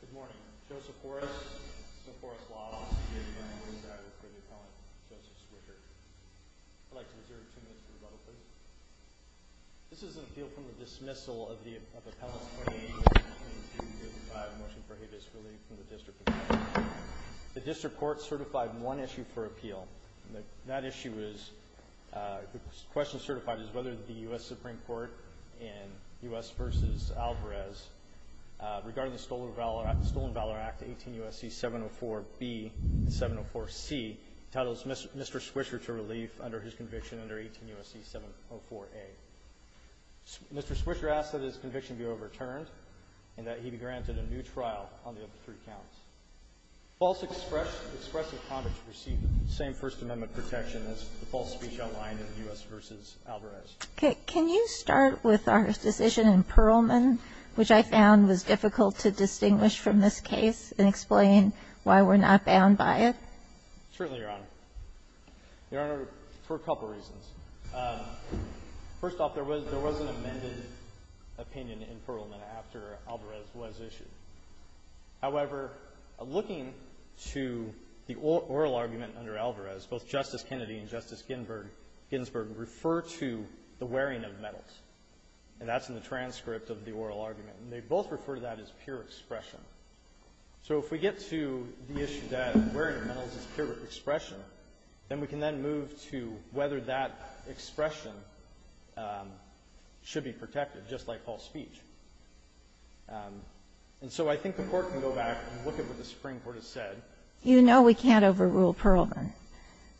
Good morning. Joseph Horace. Joseph Horace Law. I'm here to present a motion for the appellant, Joseph Swisher. I'd like to reserve two minutes for rebuttal, please. This is an appeal from the dismissal of the appellant's 28 years in prison. I have a motion for habeas relief from the District of Columbia. The District Court certified one issue for appeal. That issue is, the question certified is whether the U.S. Supreme Court in U.S. v. Alvarez regarding the Stolen Valor Act, 18 U.S.C. 704-B and 704-C, entitles Mr. Swisher to relief under his conviction under 18 U.S.C. 704-A. Mr. Swisher asks that his conviction be overturned and that he be granted a new trial on the other three counts. False expressive comments receive the same First Amendment protection as the false speech outlined in U.S. v. Alvarez. Can you start with our decision in Perelman, which I found was difficult to distinguish from this case and explain why we're not bound by it? Certainly, Your Honor. Your Honor, for a couple of reasons. First off, there was an amended opinion in Perelman after Alvarez was issued. However, looking to the oral argument under Alvarez, both Justice Kennedy and Justice Ginsburg refer to the wearing of medals, and that's in the transcript of the oral argument, and they both refer to that as pure expression. So if we get to the issue that wearing medals is pure expression, then we can then move to whether that expression should be protected, just like false speech. And so I think the Court can go back and look at what the Supreme Court has said. You know we can't overrule Perelman.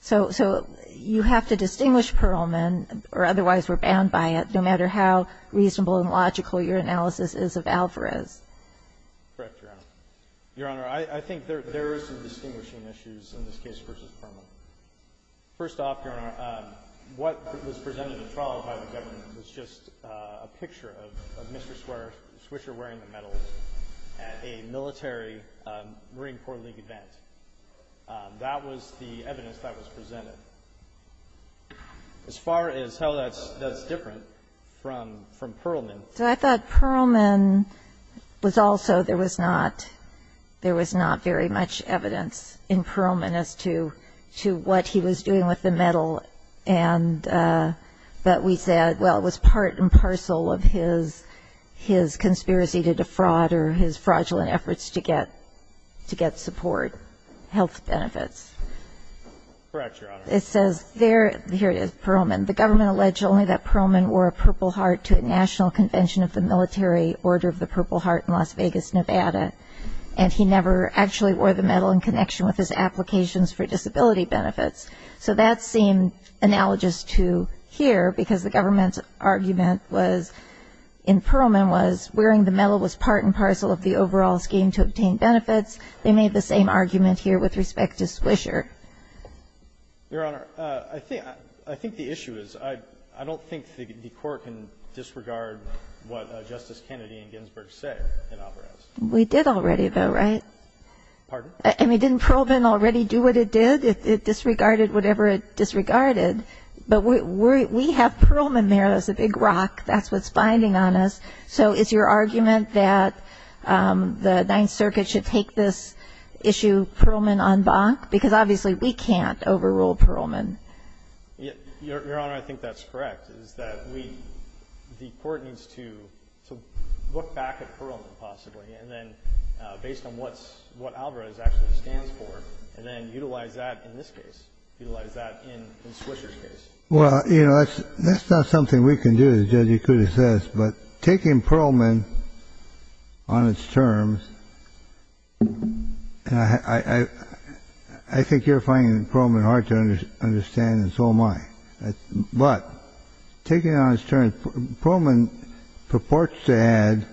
So you have to distinguish Perelman, or otherwise we're bound by it, no matter how reasonable and logical your analysis is of Alvarez. Correct, Your Honor. Your Honor, I think there is some distinguishing issues in this case versus Perelman. First off, Your Honor, what was presented at trial by the government was just a picture of Mr. Swisher wearing the medals at a military Marine Corps League event. That was the evidence that was presented. As far as how that's different from Perelman. So I thought Perelman was also there was not very much evidence in Perelman as to what he was doing with the medal, and that we said, well, it was part and parcel of his conspiracy to defraud or his fraudulent efforts to get support, health benefits. Correct, Your Honor. It says there, here it is, Perelman. The government alleged only that Perelman wore a Purple Heart to a national convention of the military Order of the Purple Heart in Las Vegas, Nevada, and he never actually wore the medal in connection with his applications for disability benefits. So that seemed analogous to here, because the government's argument was, in Perelman, was wearing the medal was part and parcel of the overall scheme to obtain benefits. They made the same argument here with respect to Swisher. Your Honor, I think the issue is I don't think the Court can disregard what Justice Kennedy and Ginsburg say in Alvarez. We did already, though, right? Pardon? I mean, didn't Perelman already do what it did? It disregarded whatever it disregarded. But we have Perelman there as a big rock. That's what's binding on us. So is your argument that the Ninth Circuit should take this issue Perelman en banc? Because obviously we can't overrule Perelman. Your Honor, I think that's correct, is that the Court needs to look back at Perelman possibly, and then based on what Alvarez actually stands for, and then utilize that in this case, utilize that in Swisher's case. Well, you know, that's not something we can do, as Judge Ikuda says. But taking Perelman on its terms, I think you're finding Perelman hard to understand, and so am I. But taking it on its terms, Perelman purports to add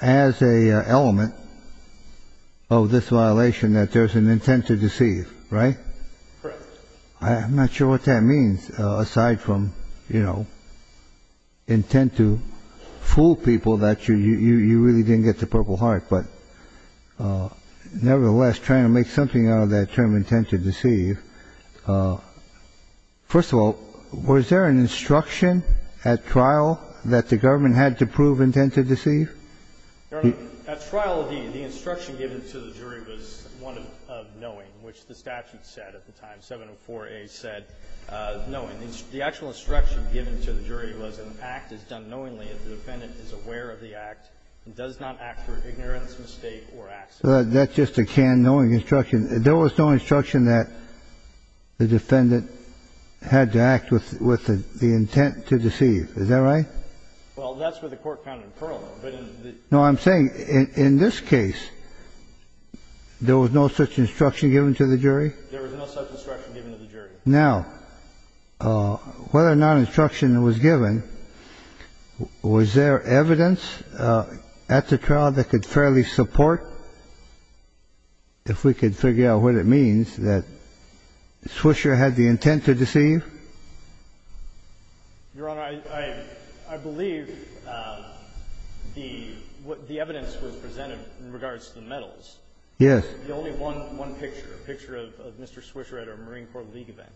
as an element of this violation that there's an intent to deceive, right? Correct. I'm not sure what that means, aside from, you know, intent to fool people that you really didn't get the Purple Heart. But nevertheless, trying to make something out of that term, intent to deceive, first of all, was there an instruction at trial that the government had to prove intent to deceive? Your Honor, at trial, the instruction given to the jury was one of knowing, which the statute said at the time, 704A said, knowing. The actual instruction given to the jury was an act is done knowingly if the defendant is aware of the act and does not act for ignorance, mistake, or accident. That's just a can-knowing instruction. There was no instruction that the defendant had to act with the intent to deceive. Is that right? Well, that's what the court found in Perelman. No, I'm saying in this case, there was no such instruction given to the jury? There was no such instruction given to the jury. Now, whether or not instruction was given, was there evidence at the trial that could fairly support, if we could figure out what it means, that Swisher had the intent to deceive? Your Honor, I believe the evidence was presented in regards to the medals. Yes. The only one picture, a picture of Mr. Swisher at a Marine Corps League event.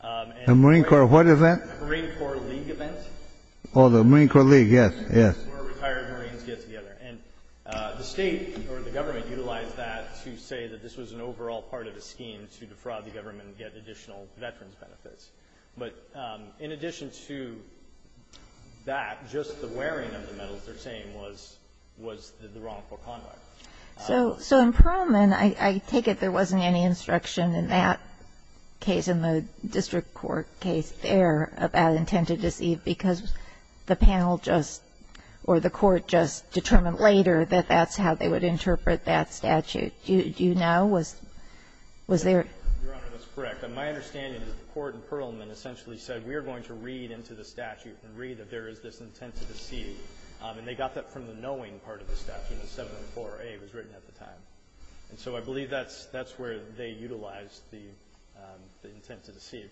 A Marine Corps what event? A Marine Corps League event. Oh, the Marine Corps League. Yes, yes. That's where retired Marines get together. And the State or the government utilized that to say that this was an overall part of a scheme to defraud the government and get additional veterans' benefits. But in addition to that, just the wearing of the medals they're saying was the wrongful conduct. So in Perelman, I take it there wasn't any instruction in that case, in the district court case there, about intent to deceive, because the panel just or the court just determined later that that's how they would interpret that statute. Do you know, was there? Your Honor, that's correct. My understanding is the court in Perelman essentially said we are going to read into the statute and read if there is this intent to deceive. And they got that from the knowing part of the statute in 704A was written at the time. And so I believe that's where they utilized the intent to deceive.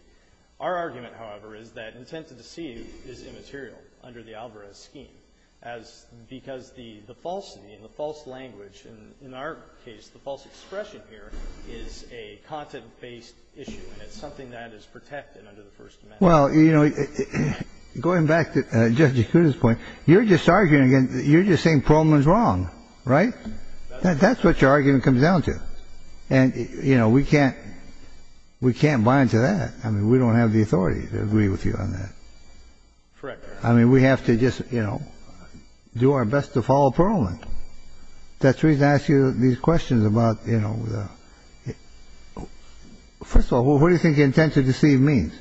Our argument, however, is that intent to deceive is immaterial under the Alvarez scheme because the falsity and the false language, and in our case the false expression here, is a content-based issue and it's something that is protected under the First Amendment. Well, you know, going back to Judge Yakuta's point, you're just arguing again, you're just saying Perelman's wrong, right? That's what your argument comes down to. And, you know, we can't bind to that. I mean, we don't have the authority to agree with you on that. Correct, Your Honor. I mean, we have to just, you know, do our best to follow Perelman. That's the reason I ask you these questions about, you know, first of all, what do you think intent to deceive means?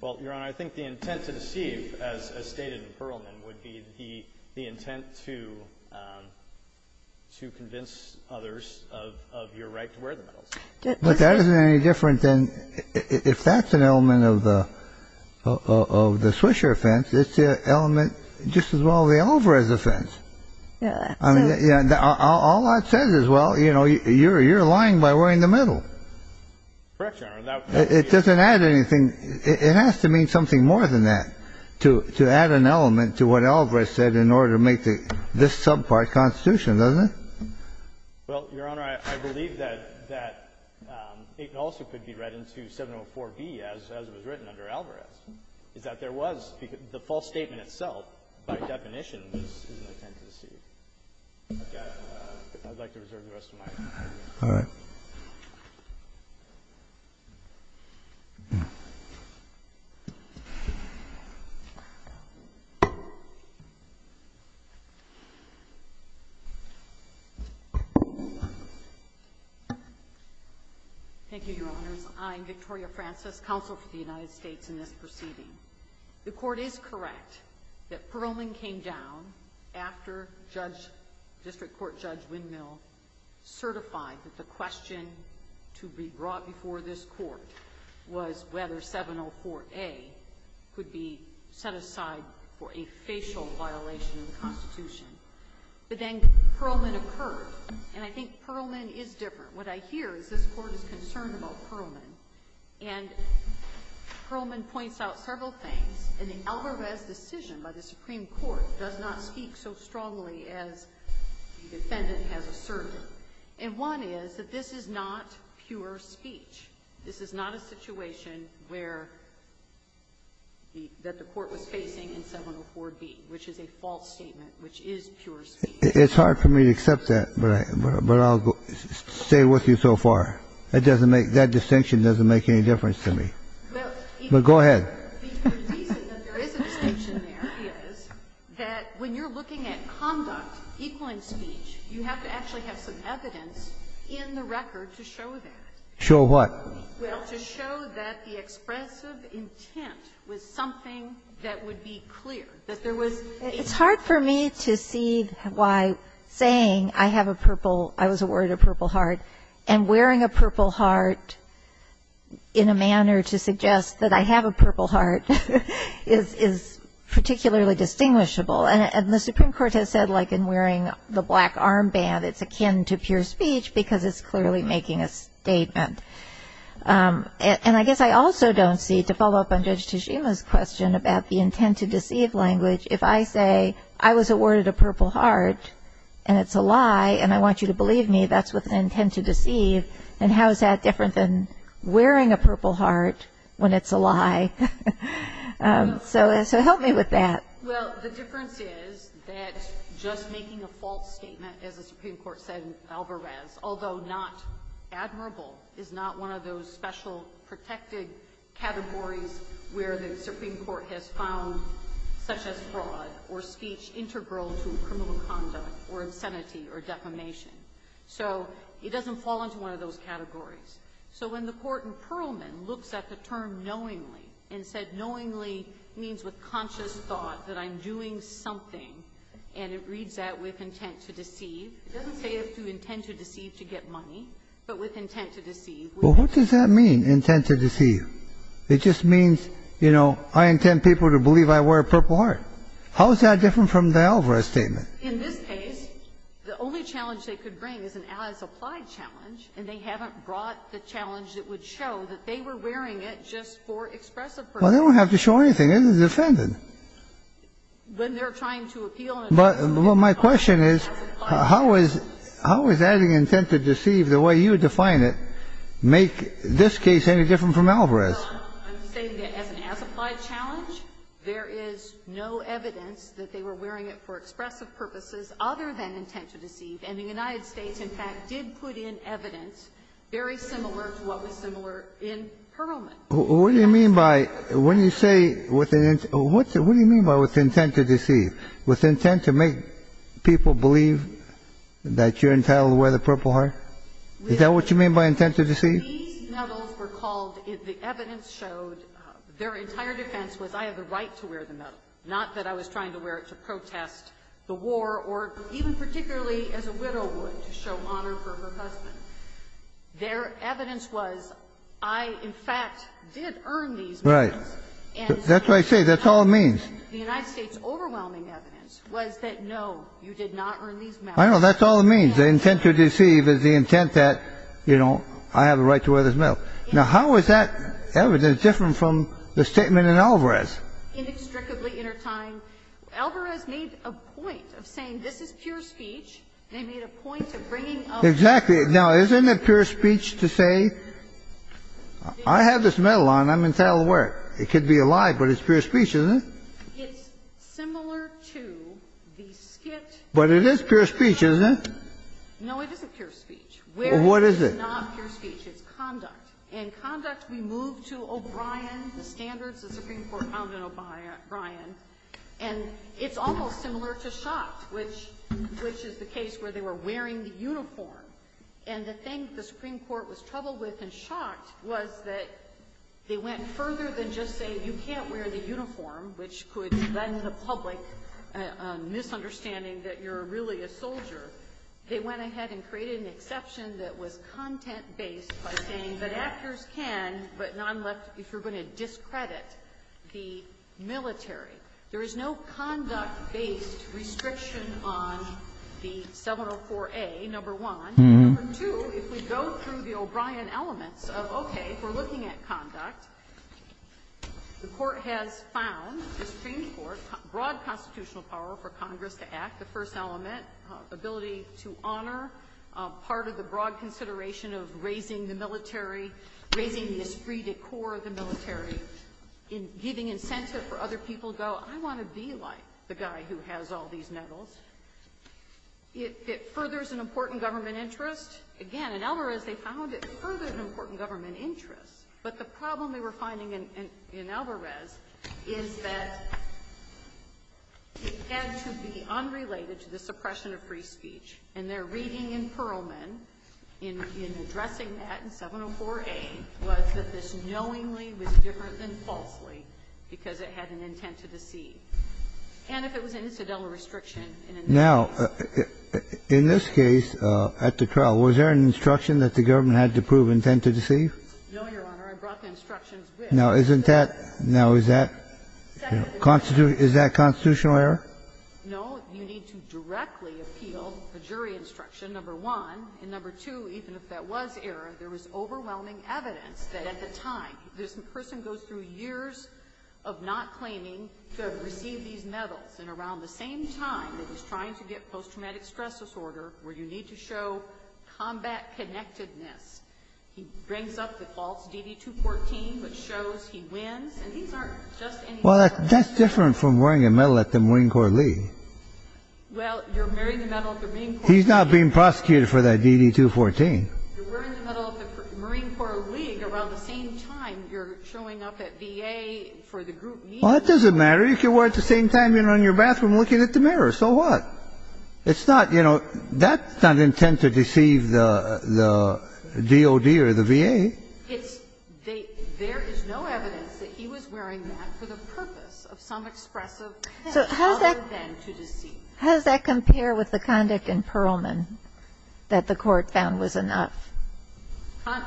Well, Your Honor, I think the intent to deceive, as stated in Perelman, would be the intent to convince others of your right to wear the medals. But that isn't any different than if that's an element of the Swisher offense, it's an element just as well of the Alvarez offense. Yeah. I mean, all that says is, well, you know, you're lying by wearing the medal. Correct, Your Honor. It doesn't add anything. It has to mean something more than that, to add an element to what Alvarez said in order to make this subpart constitution, doesn't it? Well, Your Honor, I believe that it also could be read into 704B as it was written under Alvarez, is that there was the false statement itself, by definition, was an intent to deceive. I'd like to reserve the rest of my time. All right. Thank you. Thank you, Your Honors. I'm Victoria Francis, Counsel for the United States in this proceeding. The Court is correct that Perelman came down after District Court Judge certified that the question to be brought before this Court was whether 704A could be set aside for a facial violation of the Constitution. But then Perelman occurred, and I think Perelman is different. What I hear is this Court is concerned about Perelman, and Perelman points out several things, and the Alvarez decision by the Supreme Court does not speak so strongly as the defendant has asserted. And one is that this is not pure speech. This is not a situation where the Court was facing in 704B, which is a false statement, which is pure speech. It's hard for me to accept that, but I'll stay with you so far. It doesn't make that distinction doesn't make any difference to me. But go ahead. The reason that there is a distinction there is that when you're looking at conduct, equine speech, you have to actually have some evidence in the record to show that. Show what? Well, to show that the expressive intent was something that would be clear, that there was It's hard for me to see why saying, I have a purple, I was awarded a purple heart, and wearing a purple heart in a manner to suggest that I have a purple heart is particularly distinguishable. And the Supreme Court has said, like in wearing the black armband, it's akin to pure speech because it's clearly making a statement. And I guess I also don't see, to follow up on Judge Tejima's question about the intent to deceive language, if I say, I was awarded a purple heart, and it's a lie, and I want you to believe me, that's with an intent to deceive, then how is that different than it's a lie? So help me with that. Well, the difference is that just making a false statement, as the Supreme Court said in Alvarez, although not admirable, is not one of those special protected categories where the Supreme Court has found such as fraud or speech integral to criminal conduct or insanity or defamation. So it doesn't fall into one of those categories. So when the Court in Perlman looks at the term knowingly and said knowingly means with conscious thought that I'm doing something, and it reads that with intent to deceive, it doesn't say if to intend to deceive to get money, but with intent to deceive. Well, what does that mean, intent to deceive? It just means, you know, I intend people to believe I wear a purple heart. How is that different from the Alvarez statement? In this case, the only challenge they could bring is an as-applied challenge, and they haven't brought the challenge that would show that they were wearing it just for expressive purposes. Well, they don't have to show anything. It isn't defended. When they're trying to appeal an as-applied challenge. But my question is, how is adding intent to deceive the way you define it make this case any different from Alvarez? I'm saying that as an as-applied challenge, there is no evidence that they were wearing it for expressive purposes other than intent to deceive. And the United States, in fact, did put in evidence very similar to what was similar in Perelman. What do you mean by, when you say with intent, what do you mean by with intent to deceive? With intent to make people believe that you're entitled to wear the purple heart? Is that what you mean by intent to deceive? These medals were called, the evidence showed, their entire defense was I have the right to wear the medal, not that I was trying to wear it to protest the war or even particularly as a widow would to show honor for her husband. Their evidence was I, in fact, did earn these medals. Right. That's what I say. That's all it means. The United States' overwhelming evidence was that, no, you did not earn these medals. I know. That's all it means. The intent to deceive is the intent that, you know, I have a right to wear this medal. Now, how is that evidence different from the statement in Alvarez? Inextricably intertied. Alvarez made a point of saying this is pure speech. They made a point of bringing up the evidence. Exactly. Now, isn't it pure speech to say I have this medal on, I'm entitled to wear it? It could be a lie, but it's pure speech, isn't it? It's similar to the skit. But it is pure speech, isn't it? No, it isn't pure speech. Well, what is it? It's not pure speech. It's conduct. In conduct, we move to O'Brien, the standards the Supreme Court found in O'Brien. And it's almost similar to Schott, which is the case where they were wearing the uniform. And the thing the Supreme Court was troubled with in Schott was that they went further than just saying you can't wear the uniform, which could lend the public a misunderstanding that you're really a soldier. They went ahead and created an exception that was content-based by saying that actors can, but non-left, if you're going to discredit the military. There is no conduct-based restriction on the 704A, number one. Number two, if we go through the O'Brien elements of, okay, we're looking at conduct, the Court has found, the Supreme Court, broad constitutional power for Congress to act. The first element, ability to honor part of the broad consideration of raising the military, raising this free decor of the military, giving incentive for other people to go, I want to be like the guy who has all these medals. It furthers an important government interest. Again, in Alvarez, they found it furthered an important government interest. But the problem they were finding in Alvarez is that it had to be unrelated to the suppression of free speech. And their reading in Perlman, in addressing that in 704A, was that this knowingly was different than falsely, because it had an intent to deceive. And if it was an incidental restriction in an incidental way. Kennedy, in this case, at the trial, was there an instruction that the government had to prove intent to deceive? No, Your Honor. I brought the instructions with me. Now, isn't that now is that constitutional error? No. You need to directly appeal the jury instruction, number one. And number two, even if that was error, there was overwhelming evidence that at the time, this person goes through years of not claiming to have received these medals, and around the same time that he's trying to get post-traumatic stress disorder, where you need to show combat connectedness, he brings up the false DD-214, which shows he wins, and these aren't just any medals. Well, that's different from wearing a medal at the Marine Corps League. Well, you're wearing a medal at the Marine Corps League. He's not being prosecuted for that DD-214. You're wearing a medal at the Marine Corps League around the same time you're showing up at VA for the group meeting. Well, that doesn't matter. You can wear it at the same time you're in your bathroom looking at the mirror. So what? It's not, you know, that's not intent to deceive the DOD or the VA. It's they – there is no evidence that he was wearing that for the purpose of some expressive power than to deceive. So how does that compare with the conduct in Perlman that the Court found was enough?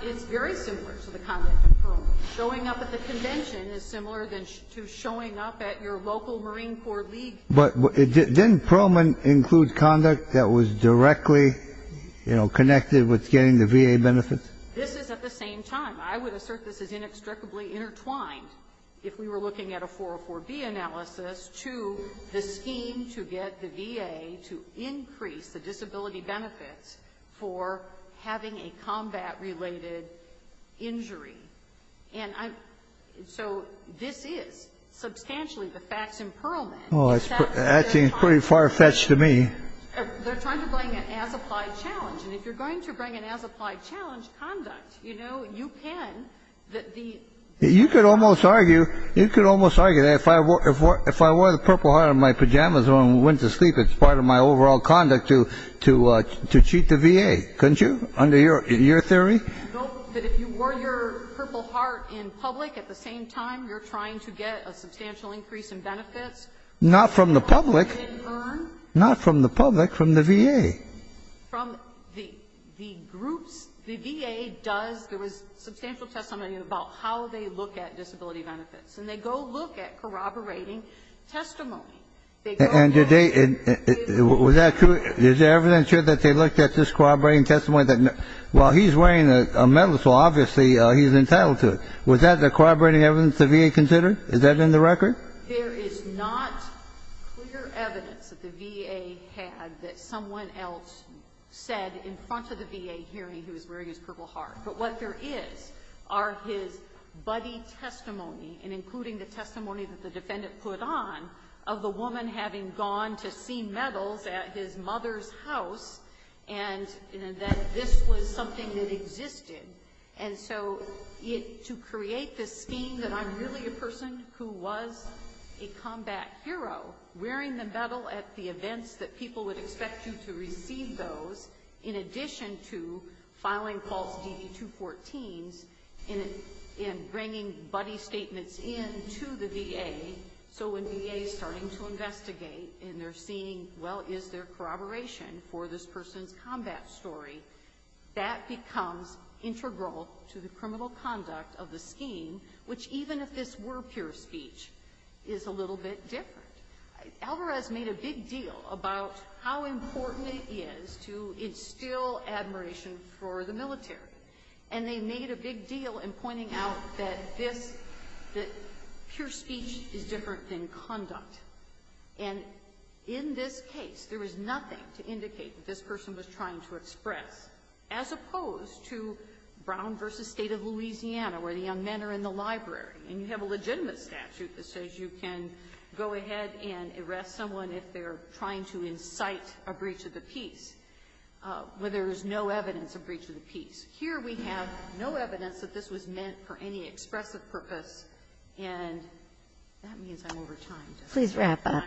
It's very similar to the conduct in Perlman. Showing up at the convention is similar to showing up at your local Marine Corps League. But didn't Perlman include conduct that was directly, you know, connected with getting the VA benefits? This is at the same time. I would assert this is inextricably intertwined if we were looking at a 404B analysis to the scheme to get the VA to increase the disability benefits for having a combat-related injury. And so this is substantially the facts in Perlman. Oh, that seems pretty far-fetched to me. They're trying to bring an as-applied challenge. And if you're going to bring an as-applied challenge conduct, you know, you can that the – You could almost argue, you could almost argue that if I wore the purple heart on my pajamas when I went to sleep, it's part of my overall conduct to cheat the VA, couldn't you, under your theory? No, but if you wore your purple heart in public at the same time you're trying to get a substantial increase in benefits. Not from the public. Not from the public, from the VA. From the groups. The VA does – there was substantial testimony about how they look at disability benefits. And they go look at corroborating testimony. And did they – was that true? Is there evidence here that they looked at this corroborating testimony? Well, he's wearing a medal, so obviously he's entitled to it. Was that the corroborating evidence the VA considered? Is that in the record? There is not clear evidence that the VA had that someone else said in front of the VA hearing he was wearing his purple heart. But what there is are his buddy testimony, and including the testimony that the defendant put on, of the woman having gone to see medals at his mother's house, and that this was something that existed. And so to create this scheme that I'm really a person who was a combat hero, wearing the medal at the events that people would expect you to receive those, in addition to filing false DV-214s and bringing buddy statements in to the VA, so when VA is starting to investigate and they're seeing, well, is there corroboration for this person's combat story, that becomes integral to the criminal conduct of the scheme, which even if this were pure speech, is a little bit different. Alvarez made a big deal about how important it is to instill admiration for the military. And they made a big deal in pointing out that this, that pure speech is different than conduct. And in this case, there was nothing to indicate that this person was trying to express, as opposed to Brown v. State of Louisiana, where the young men are in the library, and you have a legitimate statute that says you can go ahead and arrest someone if they're trying to incite a breach of the peace, where there is no evidence of breach of the peace. Here we have no evidence that this was meant for any expressive purpose, and that means I'm over time. Please wrap up.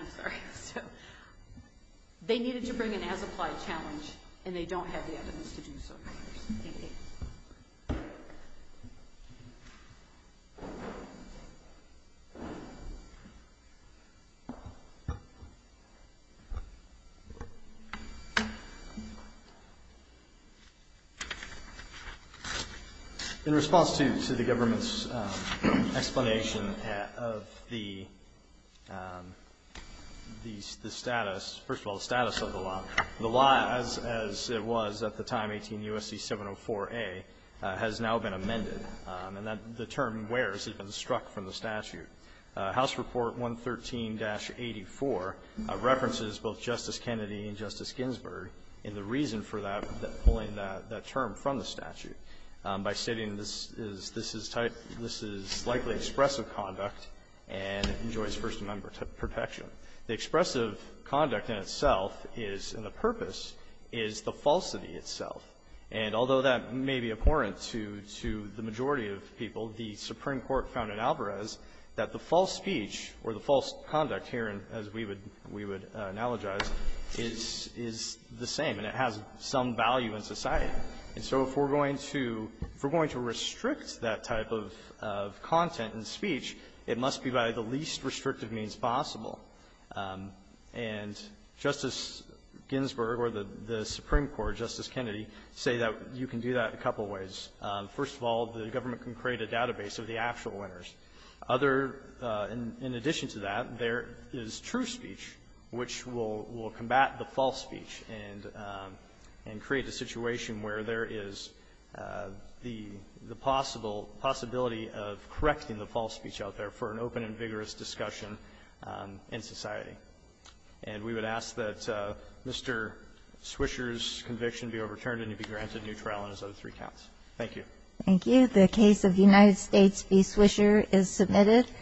They needed to bring an as-applied challenge, and they don't have the evidence to do so. Thank you. In response to the government's explanation of the status, first of all, the status of the law, as it was at the time, 18 U.S.C. 704A, has now been amended. And the term where has been struck from the statute. House Report 113-84 references both Justice Kennedy and Justice Ginsburg in the reason for that, pulling that term from the statute by stating this is likely expressive conduct and enjoys First Amendment protection. The expressive conduct in itself is, and the purpose, is the falsity itself. And although that may be abhorrent to the majority of people, the Supreme Court found in Alvarez that the false speech or the false conduct here, as we would analogize, is the same, and it has some value in society. And so if we're going to restrict that type of content in speech, it must be by the least restrictive means possible. And Justice Ginsburg or the Supreme Court, Justice Kennedy, say that you can do that a couple ways. First of all, the government can create a database of the actual winners. Other, in addition to that, there is true speech, which will combat the false speech and create a situation where there is the possible possibility of correcting the false speech out there for an open and vigorous discussion in society. And we would ask that Mr. Swisher's conviction be overturned and he be granted new trial on his other three counts. Thank you. Thank you. The case of the United States v. Swisher is submitted.